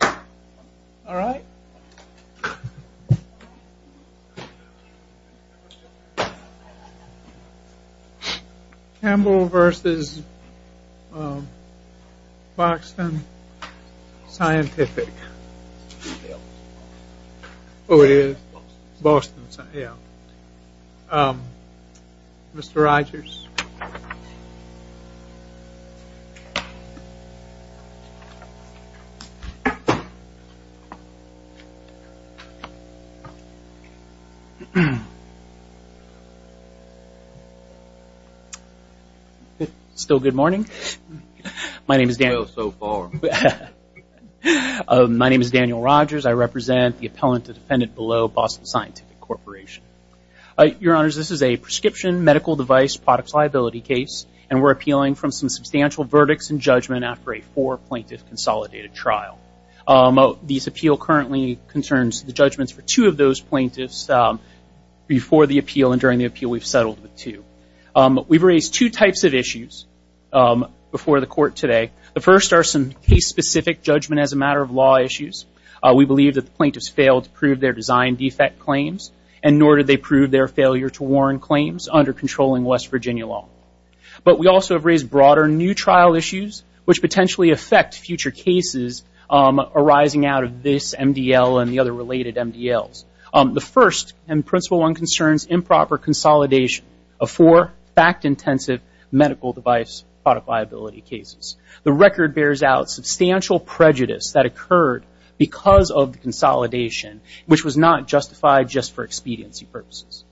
All right. Campbell v. Boston Scientific. Oh, it is? Boston Scientific, yeah. Mr. Rogers. Still good morning. My name is Daniel Rogers. I represent the appellant to defendant below Boston Scientific Corporation. Your Honors, this is a prescription medical device product liability case, and we're appealing from some substantial verdicts and judgment after a four-plaintiff consolidated trial. This appeal currently concerns the judgments for two of those plaintiffs before the appeal and during the appeal. We've settled with two. We've raised two types of issues before the court today. The first are some case-specific judgment as a matter of law issues. We believe that the plaintiffs failed to prove their design defect claims, and nor did they prove their failure to warn claims under controlling West Virginia law. But we also have raised broader new trial issues, which potentially affect future cases arising out of this MDL and the other related MDLs. The first and principle one concerns improper consolidation of four fact-intensive medical device product liability cases. The record bears out substantial prejudice that occurred because of the consolidation, which was not justified just for expediency purposes.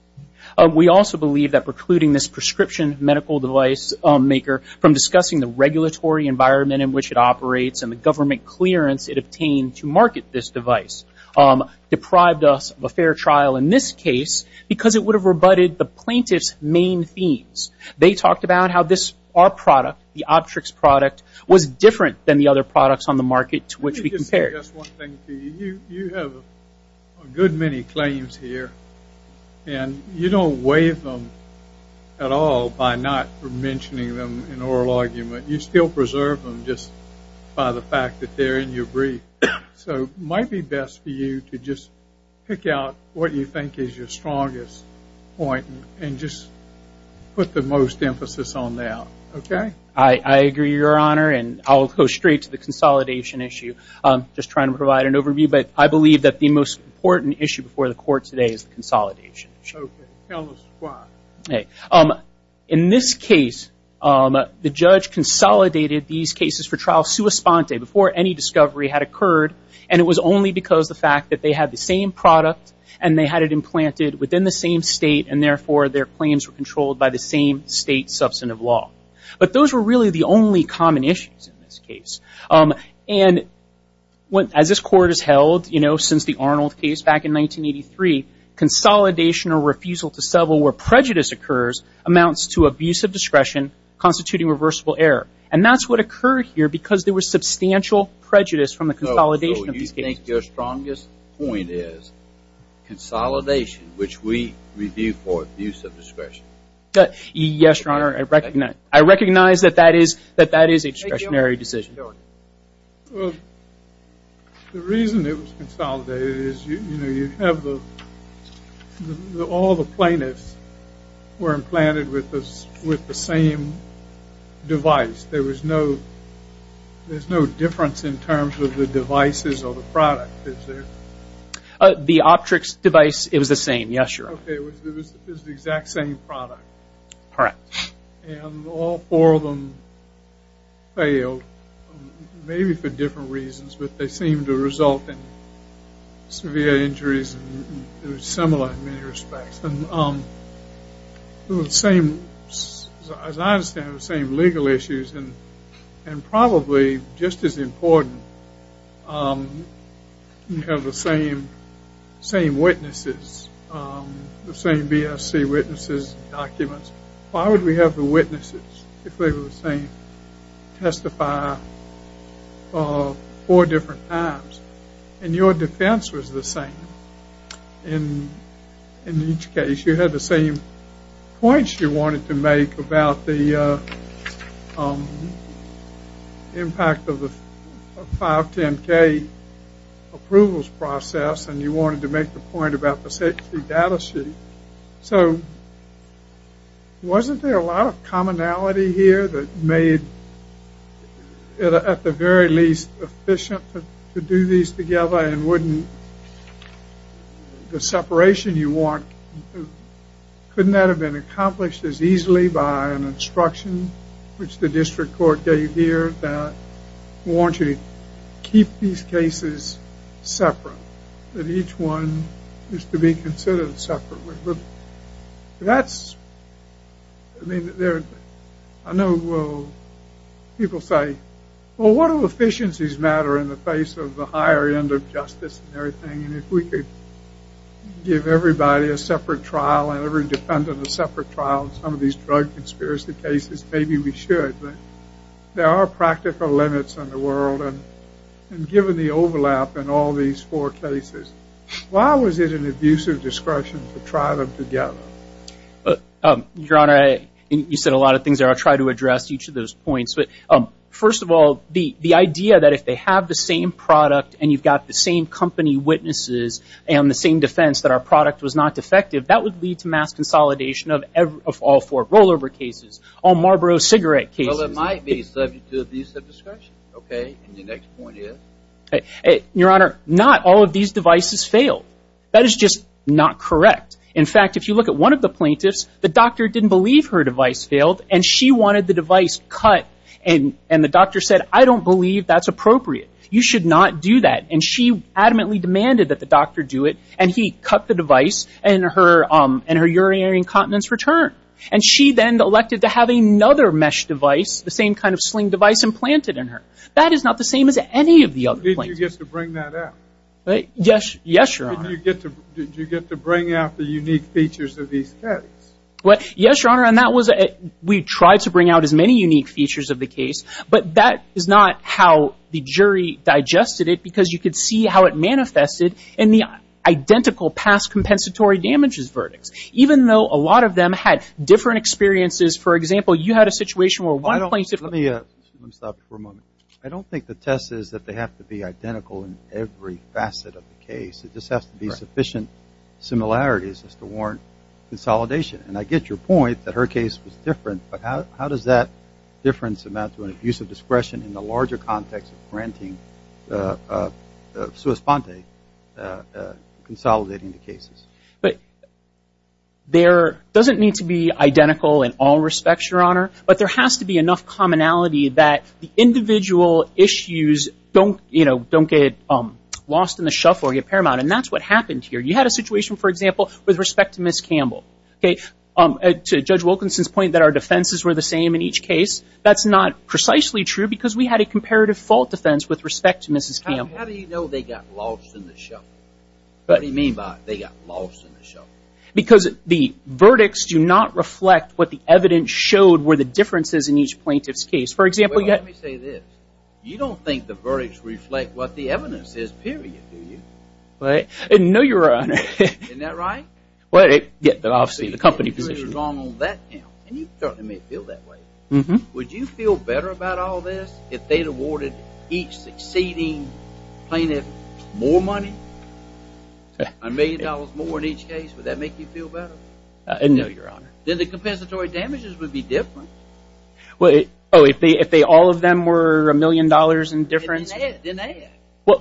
We also believe that precluding this prescription medical device maker from discussing the regulatory environment in which it operates and the government clearance it obtained to market this device deprived us of a fair trial in this case because it would have rebutted the plaintiff's main themes. They talked about how our product, the Optrix product, was different than the other products on the market to which we compared. You have a good many claims here, and you don't waive them at all by not mentioning them in oral argument. You still preserve them just by the fact that they're in your brief. So it might be best for you to just pick out what you think is your strongest point and just put the most emphasis on that, okay? I agree, Your Honor, and I'll go straight to the consolidation issue. I'm just trying to provide an overview, but I believe that the most important issue before the Court today is the consolidation issue. Okay. Tell us why. In this case, the judge consolidated these cases for trial sua sponte, before any discovery had occurred, and it was only because of the fact that they had the same product and they had it implanted within the same state, and therefore their claims were controlled by the same state substantive law. But those were really the only common issues in this case. And as this Court has held, you know, since the Arnold case back in 1983, consolidation or refusal to settle where prejudice occurs amounts to abuse of discretion, constituting reversible error. And that's what occurred here because there was substantial prejudice from the consolidation of these cases. So you think your strongest point is consolidation, which we review for abuse of discretion. Yes, Your Honor, I recognize that that is a discretionary decision. Well, the reason it was consolidated is, you know, you have all the plaintiffs were implanted with the same device. There was no difference in terms of the devices or the product that's there. The Optrix device, it was the same, yes, Your Honor. Okay, it was the exact same product. Correct. And all four of them failed, maybe for different reasons, but they seemed to result in severe injuries. It was similar in many respects. And it was the same, as I understand it, the same legal issues, and probably just as important, you have the same witnesses, the same BSC witnesses and documents. Why would we have the witnesses if they were the same, testify four different times? And your defense was the same. In each case, you had the same points you wanted to make about the impact of the 510K approvals process, and you wanted to make the point about the safety data sheet. So wasn't there a lot of commonality here that made it, at the very least, efficient to do these together, and wouldn't the separation you want, couldn't that have been accomplished as easily by an instruction, which the district court gave here, that warrants you to keep these cases separate, that each one is to be considered separately. That's, I mean, I know people say, well, what do efficiencies matter in the face of the higher end of justice and everything, and if we could give everybody a separate trial and every defendant a separate trial in some of these drug conspiracy cases, There are practical limits in the world, and given the overlap in all these four cases, why was it an abusive discretion to try them together? Your Honor, you said a lot of things there. I'll try to address each of those points. First of all, the idea that if they have the same product and you've got the same company witnesses and the same defense that our product was not defective, that would lead to mass consolidation of all four rollover cases, all Marlboro cigarette cases. Well, it might be subject to abusive discretion. Okay, and your next point is? Your Honor, not all of these devices failed. That is just not correct. In fact, if you look at one of the plaintiffs, the doctor didn't believe her device failed, and she wanted the device cut, and the doctor said, I don't believe that's appropriate. You should not do that. And she adamantly demanded that the doctor do it, and he cut the device, and her urinary incontinence returned. And she then elected to have another mesh device, the same kind of sling device, implanted in her. That is not the same as any of the other plaintiffs. Did you get to bring that out? Yes, Your Honor. Did you get to bring out the unique features of these tests? Yes, Your Honor, and we tried to bring out as many unique features of the case, but that is not how the jury digested it because you could see how it manifested in the identical past compensatory damages verdicts. Even though a lot of them had different experiences, for example, you had a situation where one plaintiff... Let me stop you for a moment. I don't think the test is that they have to be identical in every facet of the case. It just has to be sufficient similarities just to warrant consolidation, and I get your point that her case was different, in the larger context of granting sua sponte, consolidating the cases. But there doesn't need to be identical in all respects, Your Honor, but there has to be enough commonality that the individual issues don't get lost in the shuffle or get paramount, and that's what happened here. You had a situation, for example, with respect to Ms. Campbell. To Judge Wilkinson's point that our defenses were the same in each case, that's not precisely true because we had a comparative fault defense with respect to Ms. Campbell. How do you know they got lost in the shuffle? What do you mean by they got lost in the shuffle? Because the verdicts do not reflect what the evidence showed were the differences in each plaintiff's case. For example, you had... Well, let me say this. You don't think the verdicts reflect what the evidence is, period, do you? No, Your Honor. Isn't that right? Well, obviously, the company position... You're wrong on that count, and you certainly may feel that way. Would you feel better about all this if they'd awarded each succeeding plaintiff more money? A million dollars more in each case, would that make you feel better? No, Your Honor. Then the compensatory damages would be different. Oh, if all of them were a million dollars in difference? Then they had.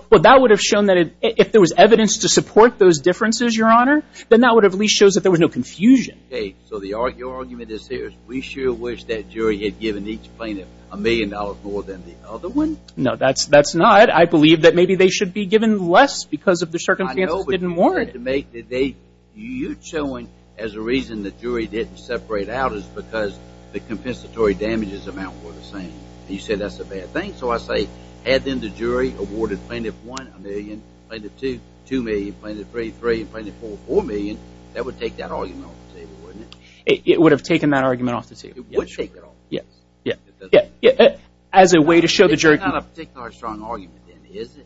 Well, that would have shown that if there was evidence to support those differences, Your Honor, then that would at least show that there was no confusion. Okay, so your argument is here is we sure wish that jury had given each plaintiff a million dollars more than the other one? No, that's not. I believe that maybe they should be given less because of the circumstances didn't warrant it. I know, but you're trying to make that they... You're showing as a reason the jury didn't separate out is because the compensatory damages amount were the same. You say that's a bad thing, so I say had then the jury awarded Plaintiff 1 a million, Plaintiff 2, 2 million, Plaintiff 3, 3, and Plaintiff 4, 4 million, that would take that argument off the table, wouldn't it? It would have taken that argument off the table. It would take it off the table. As a way to show the jury... It's not a particularly strong argument, then, is it?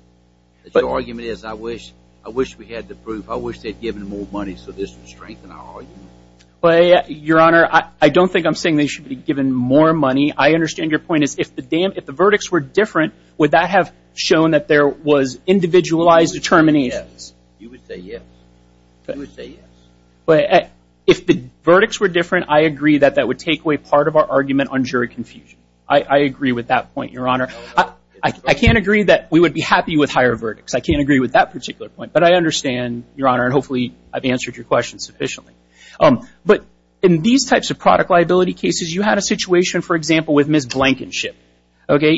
Your argument is I wish we had the proof. I wish they'd given more money so this would strengthen our argument. Well, Your Honor, I don't think I'm saying they should be given more money. I understand your point is if the verdicts were different, would that have shown that there was individualized determinations? Yes, you would say yes. You would say yes. If the verdicts were different, I agree that that would take away part of our argument on jury confusion. I agree with that point, Your Honor. I can't agree that we would be happy with higher verdicts. I can't agree with that particular point, but I understand, Your Honor, and hopefully I've answered your question sufficiently. But in these types of product liability cases, you had a situation, for example, with Ms. Blankenship.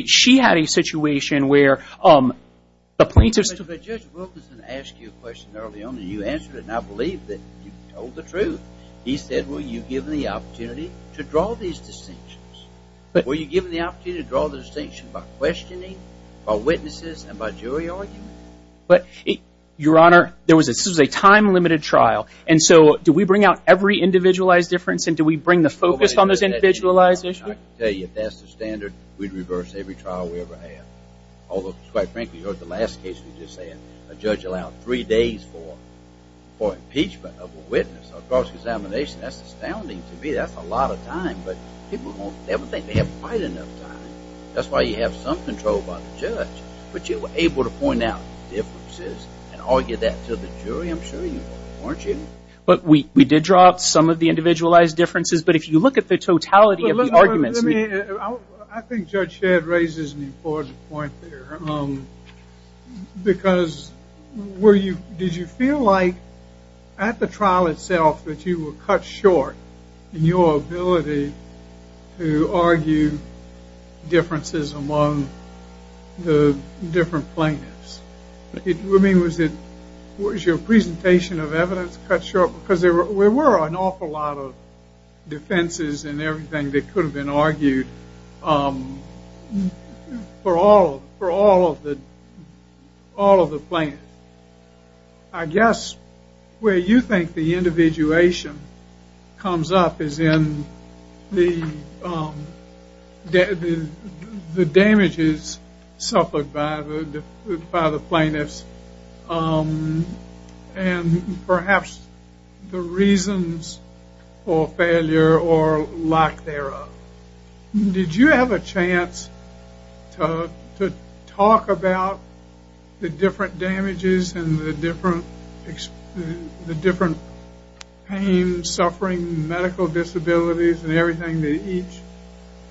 She had a situation where the plaintiffs... But Judge Wilkinson asked you a question early on, and you answered it, and I believe that you told the truth. He said, well, you've given the opportunity to draw these distinctions. Were you given the opportunity to draw the distinction by questioning, by witnesses, and by jury argument? But, Your Honor, this was a time-limited trial, and so do we bring out every individualized difference, and do we bring the focus on those individualized issues? I can tell you, if that's the standard, we'd reverse every trial we ever had. Although, quite frankly, the last case we just had, a judge allowed three days for impeachment of a witness. A cross-examination, that's astounding to me. That's a lot of time. But people don't ever think they have quite enough time. That's why you have some control by the judge. But you were able to point out differences and argue that to the jury, I'm sure you were, weren't you? But we did draw up some of the individualized differences, but if you look at the totality of the arguments... I think Judge Shedd raises an important point there. Because did you feel like, at the trial itself, that you were cut short in your ability to argue differences among the different plaintiffs? I mean, was your presentation of evidence cut short? Because there were an awful lot of defenses and everything that could have been argued for all of the plaintiffs. I guess where you think the individuation comes up is in the damages suffered by the plaintiffs and perhaps the reasons for failure or lack thereof. Did you have a chance to talk about the different damages and the different pain, suffering, medical disabilities and everything that each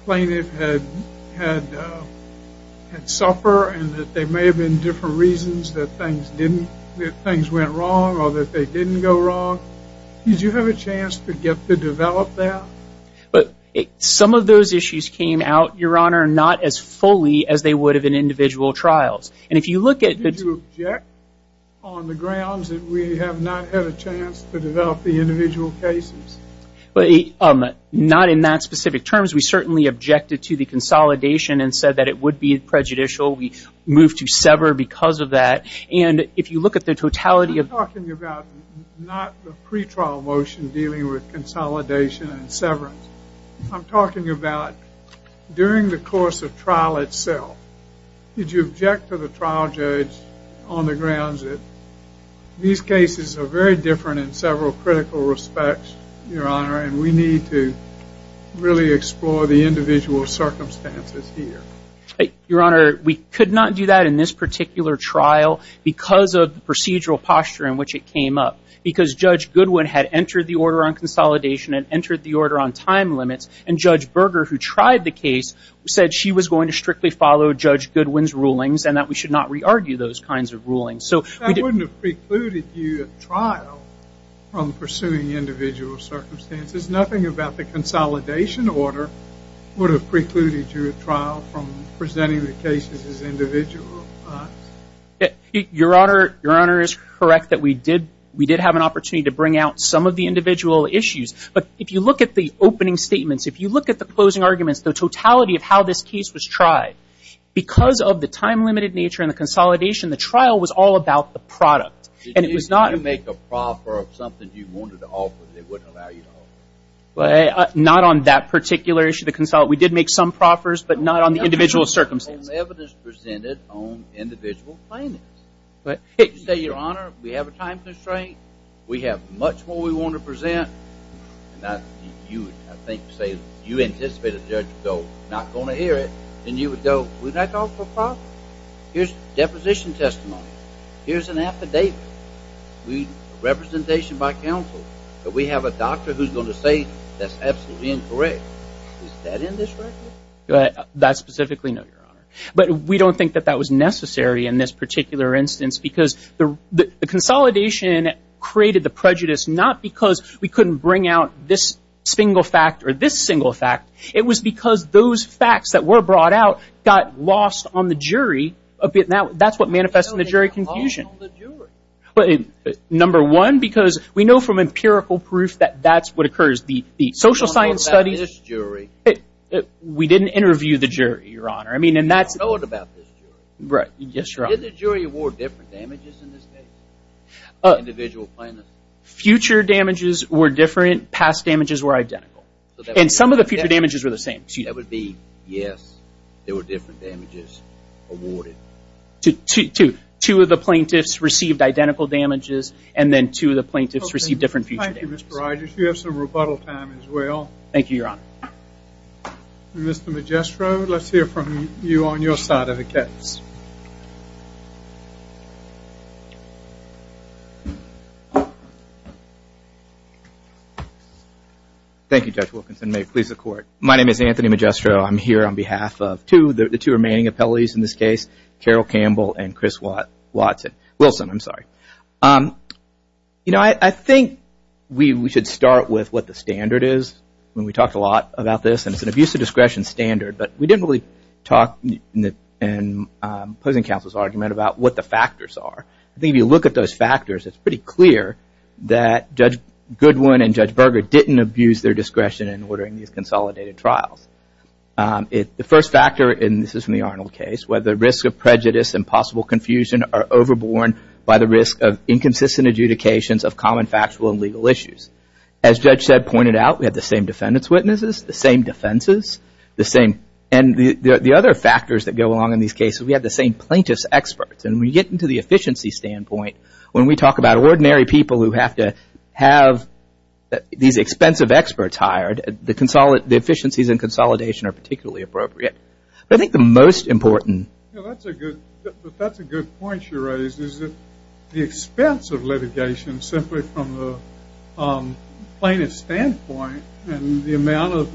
plaintiff had suffered and that there may have been different reasons that things went wrong or that they didn't go wrong? Did you have a chance to develop that? Some of those issues came out, Your Honor, not as fully as they would have in individual trials. Did you object on the grounds that we have not had a chance to develop the individual cases? Not in that specific terms. We certainly objected to the consolidation and said that it would be prejudicial. We moved to sever because of that. And if you look at the totality of... I'm talking about not the pretrial motion dealing with consolidation and severance. I'm talking about during the course of trial itself. Did you object to the trial judge on the grounds that these cases are very different in several critical respects, Your Honor, and we need to really explore the individual circumstances here? Your Honor, we could not do that in this particular trial because of the procedural posture in which it came up. Because Judge Goodwin had entered the order on consolidation and entered the order on time limits, and Judge Berger, who tried the case, said she was going to strictly follow Judge Goodwin's rulings and that we should not re-argue those kinds of rulings. That wouldn't have precluded you at trial from pursuing individual circumstances. Nothing about the consolidation order would have precluded you at trial from presenting the cases as individual. Your Honor is correct that we did have an opportunity to bring out some of the individual issues. But if you look at the opening statements, if you look at the closing arguments, the totality of how this case was tried, because of the time-limited nature and the consolidation, the trial was all about the product. Did you make a proffer of something you wanted to offer that they wouldn't allow you to offer? Not on that particular issue, the consolidation. We did make some proffers, but not on the individual circumstances. Evidence presented on individual plaintiffs. If you say, Your Honor, we have a time constraint, we have much more we want to present, and I think you anticipate a judge to go, not going to hear it, then you would go, we're not going to offer a proffer. Here's deposition testimony. Here's an affidavit. Representation by counsel. But we have a doctor who's going to say that's absolutely incorrect. Is that in this record? That specifically, no, Your Honor. But we don't think that that was necessary in this particular instance because the consolidation created the prejudice, not because we couldn't bring out this single fact or this single fact. It was because those facts that were brought out got lost on the jury. That's what manifests in the jury confusion. Number one, because we know from empirical proof that that's what occurs. The social science studies. We didn't interview the jury, Your Honor. We didn't know about this jury. Did the jury award different damages in this case? Individual plaintiffs? Future damages were different. Past damages were identical. And some of the future damages were the same. Yes, there were different damages awarded. Two of the plaintiffs received identical damages, and then two of the plaintiffs received different future damages. Thank you, Mr. Rogers. You have some rebuttal time as well. Thank you, Your Honor. Mr. Magistro, let's hear from you on your side of the case. Thank you, Judge Wilkinson. May it please the Court. My name is Anthony Magistro. I'm here on behalf of the two remaining appellees in this case, Carol Campbell and Wilson. I think we should start with what the standard is. We talked a lot about this, and it's an abuse of discretion standard. But we didn't really talk in opposing counsel's argument about what the factors are. I think if you look at those factors, it's pretty clear that Judge Goodwin and Judge Berger didn't abuse their discretion in ordering these consolidated trials. The first factor, and this is from the Arnold case, where the risk of prejudice and possible confusion are overborne by the risk of inconsistent adjudications of common factual and legal issues. As Judge Sedd pointed out, we have the same defendants' witnesses, the same defenses, and the other factors that go along in these cases, we have the same plaintiffs' experts. And when you get into the efficiency standpoint, when we talk about ordinary people who have to have these expensive experts hired, the efficiencies in consolidation are particularly appropriate. But I think the most important – That's a good point you raised, is that the expense of litigation simply from the plaintiff's standpoint and the amount of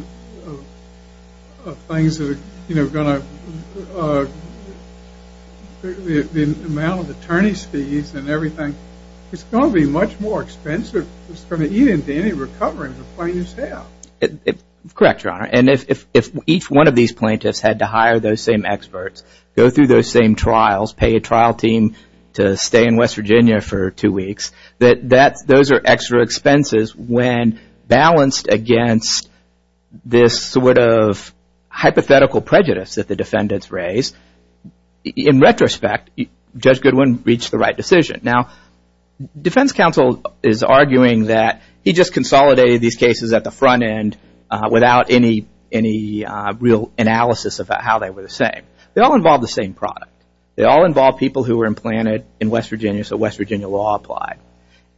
things that are going to – the amount of attorney's fees and everything, it's going to be much more expensive than any recovery the plaintiffs have. Correct, Your Honor. And if each one of these plaintiffs had to hire those same experts, go through those same trials, pay a trial team to stay in West Virginia for two weeks, those are extra expenses when balanced against this sort of hypothetical prejudice that the defendants raise. In retrospect, Judge Goodwin reached the right decision. Now, defense counsel is arguing that he just consolidated these cases at the front end without any real analysis about how they were the same. They all involved the same product. They all involved people who were implanted in West Virginia, so West Virginia law applied.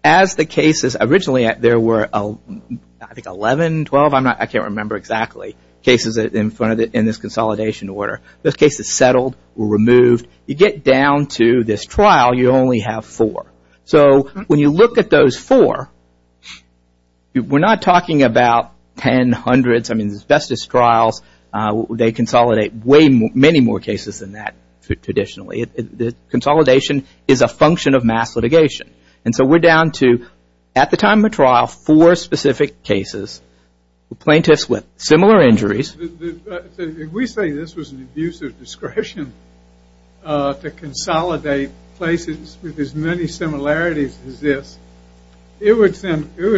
As the cases – Originally, there were, I think, 11, 12, I can't remember exactly, cases in this consolidation order. Those cases settled, were removed. You get down to this trial, you only have four. So when you look at those four, we're not talking about tens, hundreds. I mean, as best as trials, they consolidate many more cases than that traditionally. Consolidation is a function of mass litigation. And so we're down to, at the time of trial, four specific cases. Plaintiffs with similar injuries. If we say this was an abuse of discretion to consolidate places with as many similarities as this, it would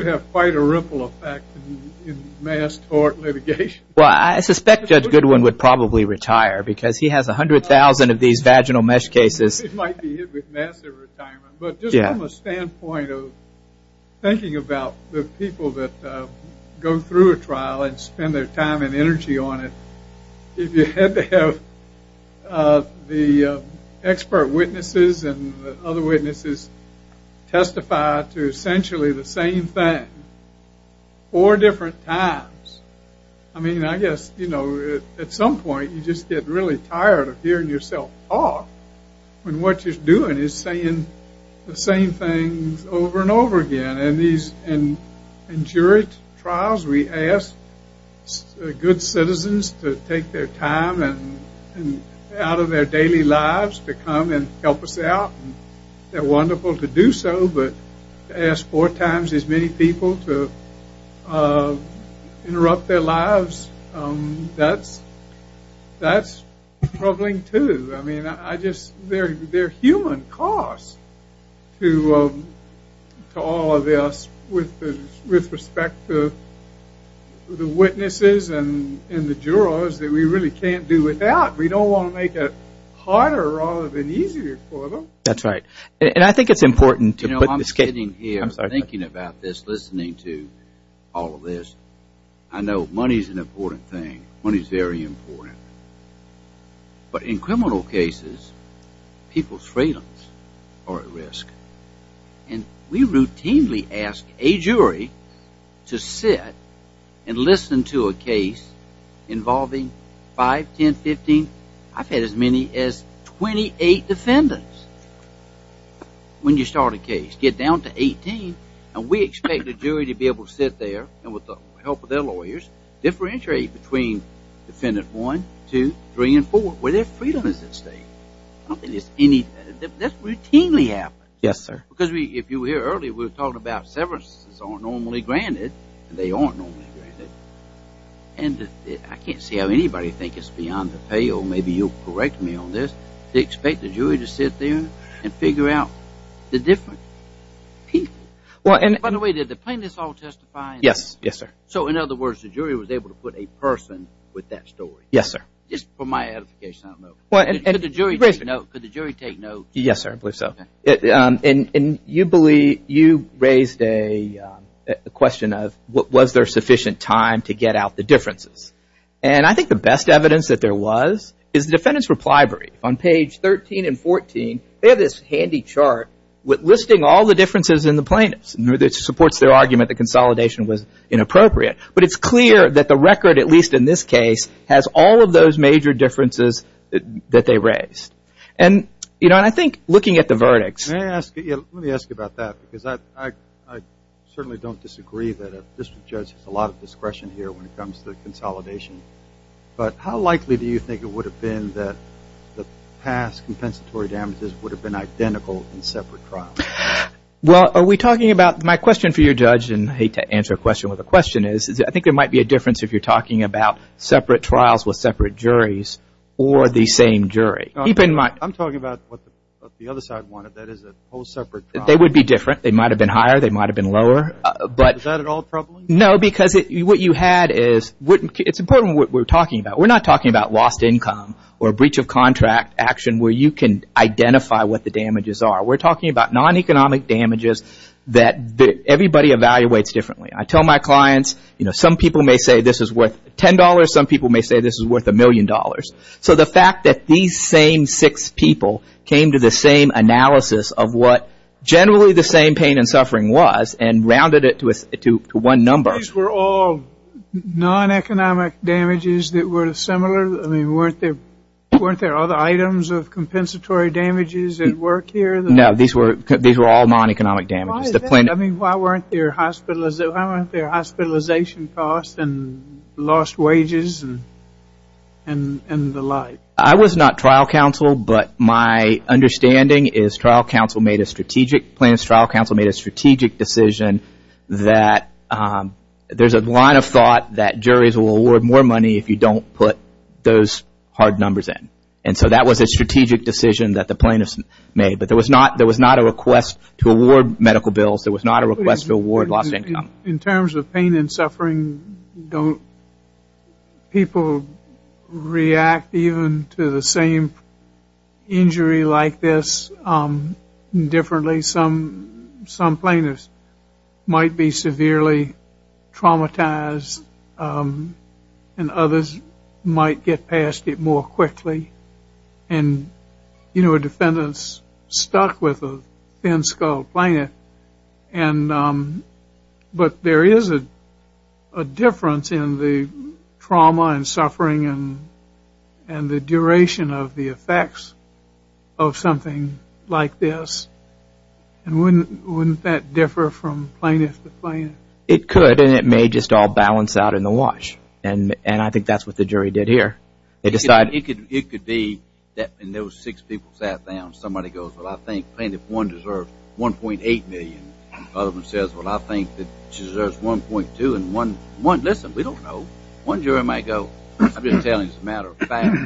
have quite a ripple effect in mass tort litigation. Well, I suspect Judge Goodwin would probably retire because he has 100,000 of these vaginal mesh cases. He might be hit with massive retirement. But just from a standpoint of thinking about the people that go through a trial and spend their time and energy on it, if you had to have the expert witnesses and other witnesses testify to essentially the same thing four different times, I mean, I guess, you know, at some point you just get really tired of hearing yourself talk. And what you're doing is saying the same things over and over again. And in jury trials, we ask good citizens to take their time and out of their daily lives to come and help us out. They're wonderful to do so, but to ask four times as many people to interrupt their lives, that's troubling too. I mean, they're human costs to all of us with respect to the witnesses and the jurors that we really can't do without. We don't want to make it harder rather than easier for them. That's right. And I think it's important to put this case... You know, I'm sitting here thinking about this, listening to all of this. I know money is an important thing. Money is very important. But in criminal cases, people's freedoms are at risk. And we routinely ask a jury to sit and listen to a case involving 5, 10, 15, I've had as many as 28 defendants. When you start a case, get down to 18, and we expect the jury to be able to sit there and with the help of their lawyers, differentiate between defendant 1, 2, 3, and 4, where their freedom is at stake. I don't think it's any... that's routinely happened. Yes, sir. Because if you were here earlier, we were talking about severances aren't normally granted, and they aren't normally granted. And I can't see how anybody thinks it's beyond the pale. Maybe you'll correct me on this. They expect the jury to sit there and figure out the different people. By the way, did the plaintiffs all testify? Yes, yes, sir. So in other words, the jury was able to put a person with that story? Yes, sir. Just for my edification, I don't know. Could the jury take note? Yes, sir, I believe so. And you raised a question of was there sufficient time to get out the differences? And I think the best evidence that there was is the defendant's reply brief. On page 13 and 14, they have this handy chart listing all the differences in the plaintiffs. It supports their argument that consolidation was inappropriate. But it's clear that the record, at least in this case, has all of those major differences that they raised. And I think looking at the verdicts... Let me ask you about that because I certainly don't disagree that a district judge has a lot of discretion here when it comes to consolidation. But how likely do you think it would have been that the past compensatory damages would have been identical in separate trials? Well, are we talking about... My question for you, Judge, and I hate to answer a question where the question is, is I think there might be a difference if you're talking about separate trials with separate juries or the same jury. I'm talking about what the other side wanted, that is a whole separate trial. They would be different. They might have been higher. They might have been lower. Is that at all troubling? No, because what you had is... It's important what we're talking about. We're not talking about lost income or breach of contract action where you can identify what the damages are. We're talking about non-economic damages that everybody evaluates differently. I tell my clients, you know, some people may say this is worth $10. Some people may say this is worth a million dollars. So the fact that these same six people came to the same analysis of what generally the same pain and suffering was and rounded it to one number... These were all non-economic damages that were similar? I mean, weren't there other items of compensatory damages at work here? No, these were all non-economic damages. I mean, why weren't there hospitalization costs and lost wages and the like? I was not trial counsel, but my understanding is trial counsel made a strategic plan. I understand trial counsel made a strategic decision that there's a line of thought that juries will award more money if you don't put those hard numbers in. And so that was a strategic decision that the plaintiffs made. But there was not a request to award medical bills. There was not a request to award lost income. In terms of pain and suffering, don't people react even to the same injury like this differently? Some plaintiffs might be severely traumatized and others might get past it more quickly. And, you know, a defendant's stuck with a thin-skulled plaintiff. But there is a difference in the trauma and suffering and the duration of the effects of something like this. And wouldn't that differ from plaintiff to plaintiff? It could, and it may just all balance out in the wash. And I think that's what the jury did here. It could be that when those six people sat down, somebody goes, well, I think plaintiff one deserves $1.8 million. The other one says, well, I think that she deserves $1.2. And one, listen, we don't know. One jury might go, I've been telling you as a matter of fact,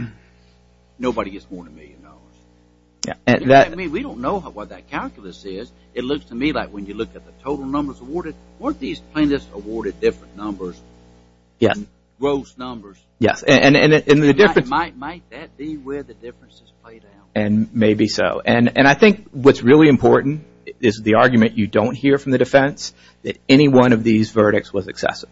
nobody gets more than a million dollars. We don't know what that calculus is. It looks to me like when you look at the total numbers awarded, weren't these plaintiffs awarded different numbers? Yes. Gross numbers. Yes, and the difference – Might that be where the differences play down? And maybe so. And I think what's really important is the argument you don't hear from the defense that any one of these verdicts was excessive.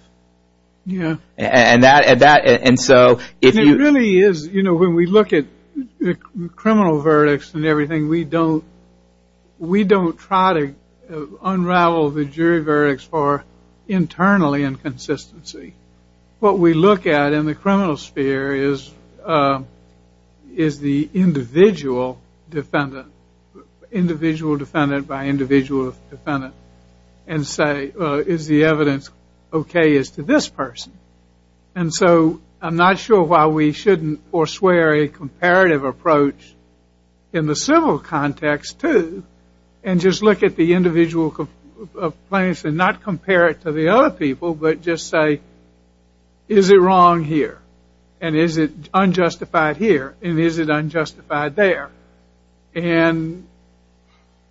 Yeah. And so if you – And it really is, you know, when we look at criminal verdicts and everything, we don't try to unravel the jury verdicts for internally inconsistency. What we look at in the criminal sphere is the individual defendant, individual defendant by individual defendant, and say, well, is the evidence okay as to this person? And so I'm not sure why we shouldn't forswear a comparative approach in the civil context, too, and just look at the individual complaints and not compare it to the other people, but just say, is it wrong here, and is it unjustified here, and is it unjustified there? And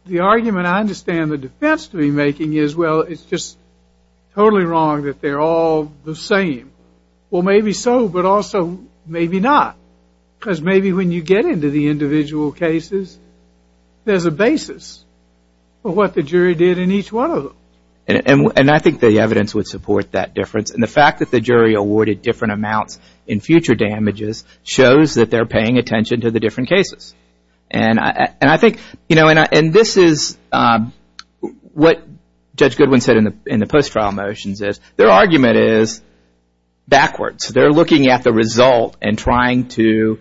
the argument I understand the defense to be making is, well, it's just totally wrong that they're all the same. Well, maybe so, but also maybe not, because maybe when you get into the individual cases, there's a basis for what the jury did in each one of them. And I think the evidence would support that difference, and the fact that the jury awarded different amounts in future damages shows that they're paying attention to the different cases. And I think, you know, and this is what Judge Goodwin said in the post-trial motions is, their argument is backwards. They're looking at the result and trying to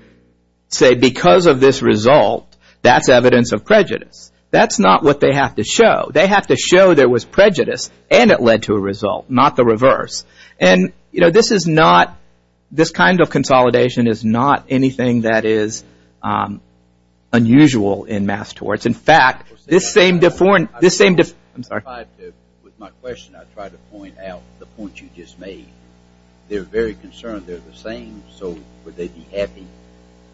say, because of this result, that's evidence of prejudice. That's not what they have to show. They have to show there was prejudice and it led to a result, not the reverse. And, you know, this is not – this kind of consolidation is not anything that is unusual in mass torts. In fact, this same – I'm sorry. With my question, I tried to point out the point you just made. They're very concerned they're the same, so would they be happy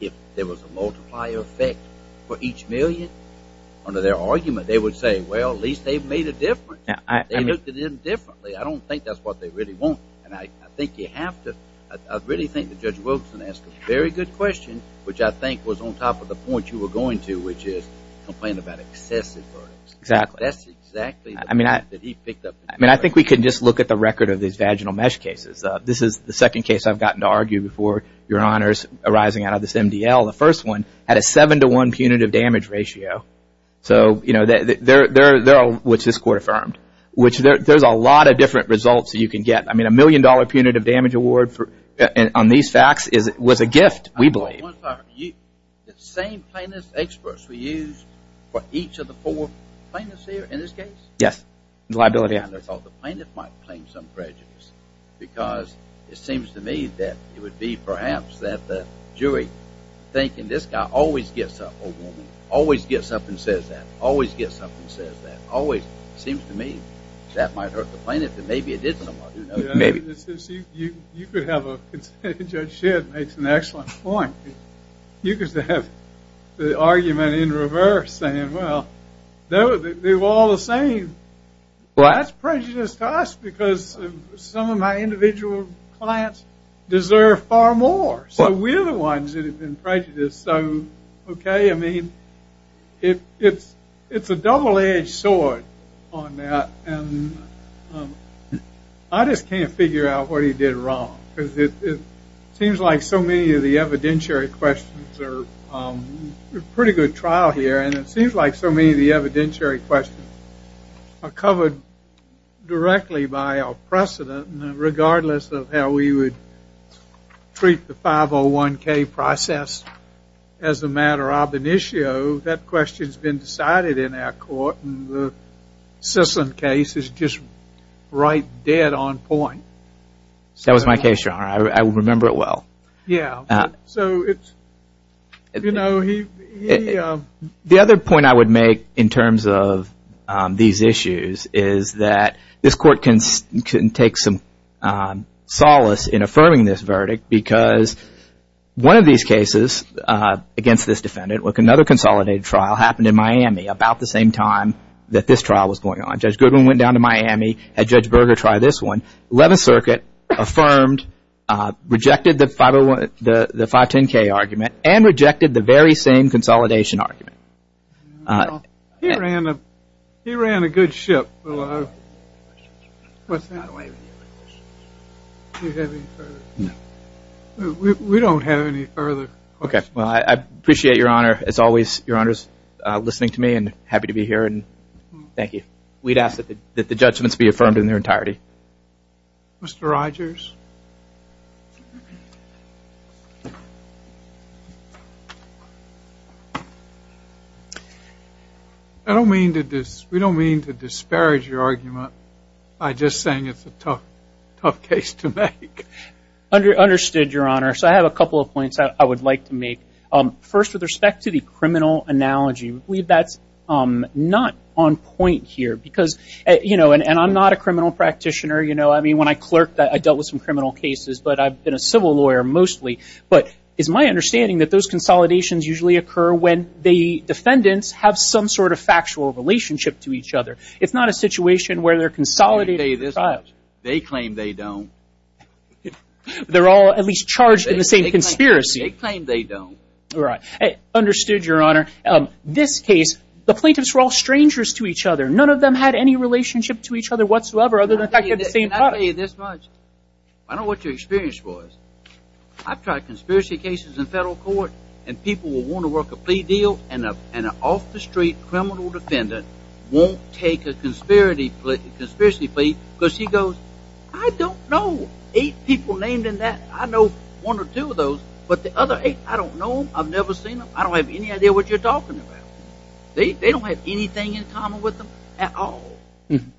if there was a multiplier effect for each million? Under their argument, they would say, well, at least they've made a difference. They looked at it differently. I don't think that's what they really want, and I think you have to – I really think that Judge Wilson asked a very good question, which I think was on top of the point you were going to, which is complaining about excessive verdicts. Exactly. That's exactly what he picked up. I mean, I think we can just look at the record of these vaginal mesh cases. This is the second case I've gotten to argue before your honors arising out of this MDL. The first one had a 7 to 1 punitive damage ratio, which this court affirmed, which there's a lot of different results that you can get. I mean, a million dollar punitive damage award on these facts was a gift, we believe. The same plaintiff experts were used for each of the four plaintiffs here in this case? Yes, the liability experts. I thought the plaintiff might claim some prejudice because it seems to me that it would be perhaps that the jury, thinking this guy always gets up, or woman, always gets up and says that, always gets up and says that, always seems to me that might hurt the plaintiff, and maybe it did somewhat. You could have a, Judge Shedd makes an excellent point. You could have the argument in reverse saying, well, they were all the same. That's prejudice to us because some of my individual clients deserve far more. So we're the ones that have been prejudiced. So, okay, I mean, it's a double edged sword on that. And I just can't figure out what he did wrong. It seems like so many of the evidentiary questions are pretty good trial here, and it seems like so many of the evidentiary questions are covered directly by our precedent, regardless of how we would treat the 501k process as a matter of an issue. So that question's been decided in our court, and the Sisson case is just right dead on point. That was my case, your honor. I remember it well. Yeah. So it's, you know, he. The other point I would make in terms of these issues is that this court can take some solace in affirming this verdict because one of these cases against this defendant with another consolidated trial happened in Miami about the same time that this trial was going on. Judge Goodwin went down to Miami, had Judge Berger try this one. Eleventh Circuit affirmed, rejected the 510k argument, and rejected the very same consolidation argument. He ran a good ship. We don't have any further questions. Okay. Well, I appreciate your honor, as always, your honors, listening to me and happy to be here, and thank you. We'd ask that the judgments be affirmed in their entirety. Mr. Rogers? I don't mean to disparage your argument by just saying it's a tough case to make. Understood, your honor. So I have a couple of points I would like to make. First, with respect to the criminal analogy, we believe that's not on point here because, you know, and I'm not a criminal practitioner, you know. I mean, when I clerked, I dealt with some criminal cases, but I've been a civil lawyer mostly. But it's my understanding that those consolidations usually occur when the defendants have some sort of factual relationship to each other. It's not a situation where they're consolidating their trials. They claim they don't. They're all at least charged in the same conspiracy. They claim they don't. All right. Understood, your honor. This case, the plaintiffs were all strangers to each other. None of them had any relationship to each other whatsoever other than the fact that they're the same club. Can I tell you this much? I don't know what your experience was. I've tried conspiracy cases in federal court, and people will want to work a plea deal, and an off-the-street criminal defendant won't take a conspiracy plea because he goes, I don't know eight people named in that. I know one or two of those, but the other eight, I don't know them. I've never seen them. I don't have any idea what you're talking about. They don't have anything in common with them at all. And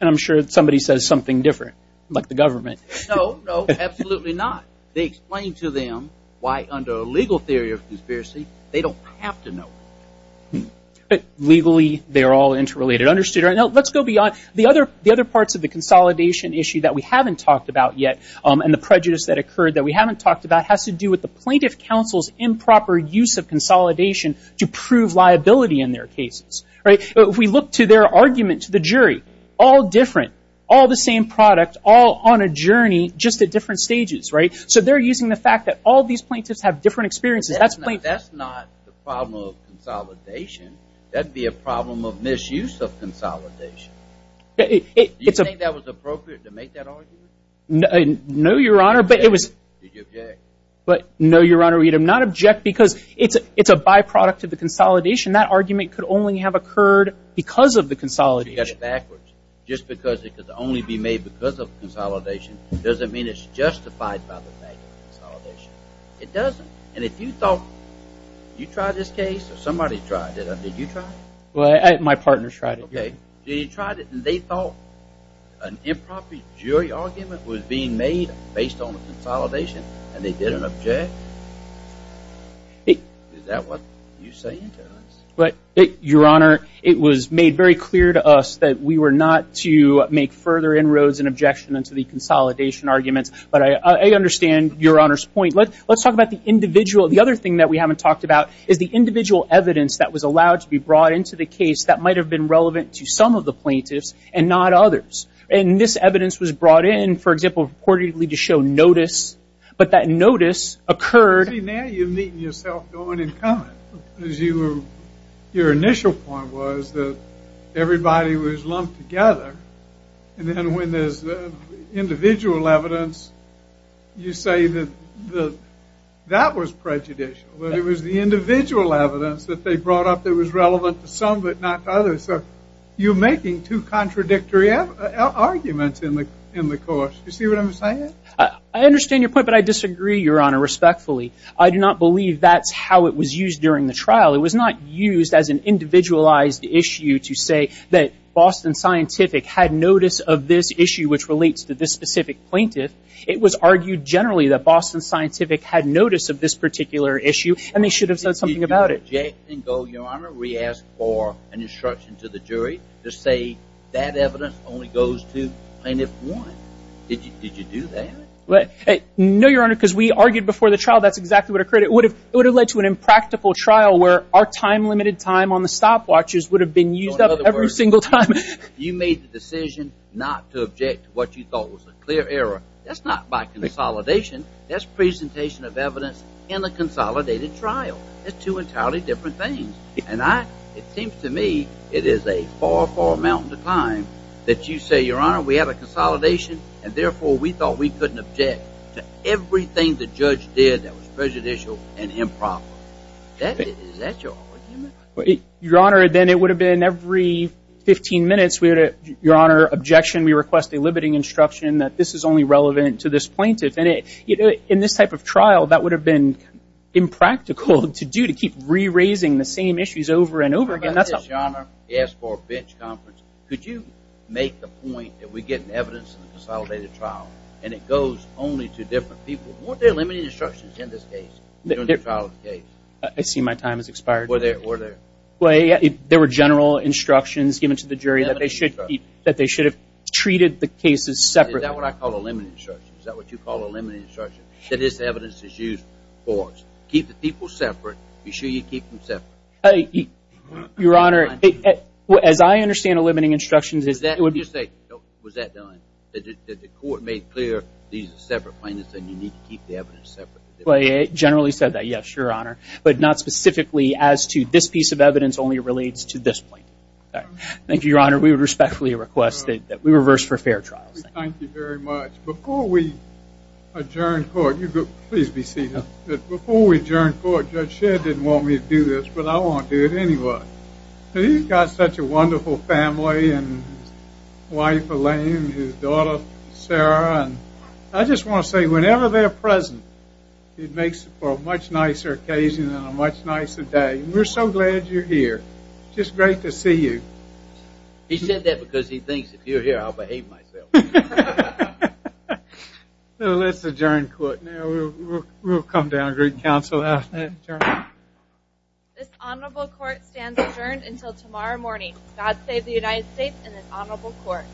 I'm sure somebody says something different, like the government. No, no, absolutely not. They explain to them why under a legal theory of conspiracy they don't have to know. But legally they're all interrelated. Understood, your honor. Let's go beyond. The other parts of the consolidation issue that we haven't talked about yet and the prejudice that occurred that we haven't talked about has to do with the plaintiff counsel's improper use of consolidation to prove liability in their cases. If we look to their argument to the jury, all different, all the same product, all on a journey, just at different stages. So they're using the fact that all these plaintiffs have different experiences. That's not the problem of consolidation. That would be a problem of misuse of consolidation. Do you think that was appropriate to make that argument? No, your honor. Did you object? No, your honor. We would not object because it's a byproduct of the consolidation. That argument could only have occurred because of the consolidation. Because it's backwards. Just because it could only be made because of consolidation doesn't mean it's justified by the fact of consolidation. It doesn't. And if you thought you tried this case or somebody tried it, did you try it? My partner tried it. Okay. So you tried it and they thought an improper jury argument was being made based on the consolidation and they didn't object? Is that what you're saying to us? Your honor, it was made very clear to us that we were not to make further inroads and objection into the consolidation arguments. But I understand your honor's point. Let's talk about the individual. The other thing that we haven't talked about is the individual evidence that was allowed to be brought into the case that might have been relevant to some of the plaintiffs and not others. And this evidence was brought in, for example, reportedly to show notice. But that notice occurred. See, now you're meeting yourself going and coming. Your initial point was that everybody was lumped together. And then when there's individual evidence, you say that that was prejudicial. But it was the individual evidence that they brought up that was relevant to some but not to others. So you're making two contradictory arguments in the course. You see what I'm saying? I understand your point, but I disagree, Your Honor, respectfully. I do not believe that's how it was used during the trial. It was not used as an individualized issue to say that Boston Scientific had notice of this issue, which relates to this specific plaintiff. It was argued generally that Boston Scientific had notice of this particular issue and they should have said something about it. We asked for an instruction to the jury to say that evidence only goes to plaintiff one. Did you do that? No, Your Honor, because we argued before the trial that's exactly what occurred. It would have led to an impractical trial where our time, limited time on the stopwatches would have been used up every single time. You made the decision not to object to what you thought was a clear error. That's not by consolidation. That's presentation of evidence in a consolidated trial. It's two entirely different things. And it seems to me it is a far, far mountain to climb that you say, Your Honor, we have a consolidation and therefore we thought we couldn't object to everything the judge did that was prejudicial and improper. Is that your argument? Your Honor, then it would have been every 15 minutes, Your Honor, objection, we request a limiting instruction that this is only relevant to this plaintiff. And in this type of trial, that would have been impractical to do, to keep re-raising the same issues over and over again. Your Honor, he asked for a bench conference. Could you make the point that we get evidence in a consolidated trial and it goes only to different people? Weren't there limiting instructions in this case, during the trial of the case? I see my time has expired. Were there? There were general instructions given to the jury that they should have treated the cases separately. Is that what I call a limiting instruction? Is that what you call a limiting instruction? That this evidence is used for. Keep the people separate. Be sure you keep them separate. Your Honor, as I understand a limiting instruction, is that what you're saying? Was that done? That the court made clear these are separate plaintiffs and you need to keep the evidence separate? It generally said that, yes, Your Honor, but not specifically as to this piece of evidence only relates to this plaintiff. Thank you, Your Honor. We respectfully request that we reverse for fair trials. Thank you very much. Before we adjourn court, you go. Please be seated. Before we adjourn court, Judge Shedd didn't want me to do this, but I want to do it anyway. He's got such a wonderful family, his wife Elaine, his daughter Sarah, and I just want to say whenever they're present, it makes for a much nicer occasion and a much nicer day. We're so glad you're here. It's just great to see you. He said that because he thinks if you're here I'll behave myself. Let's adjourn court now. We'll come down and get counsel after that. This honorable court stands adjourned until tomorrow morning. God save the United States and this honorable court.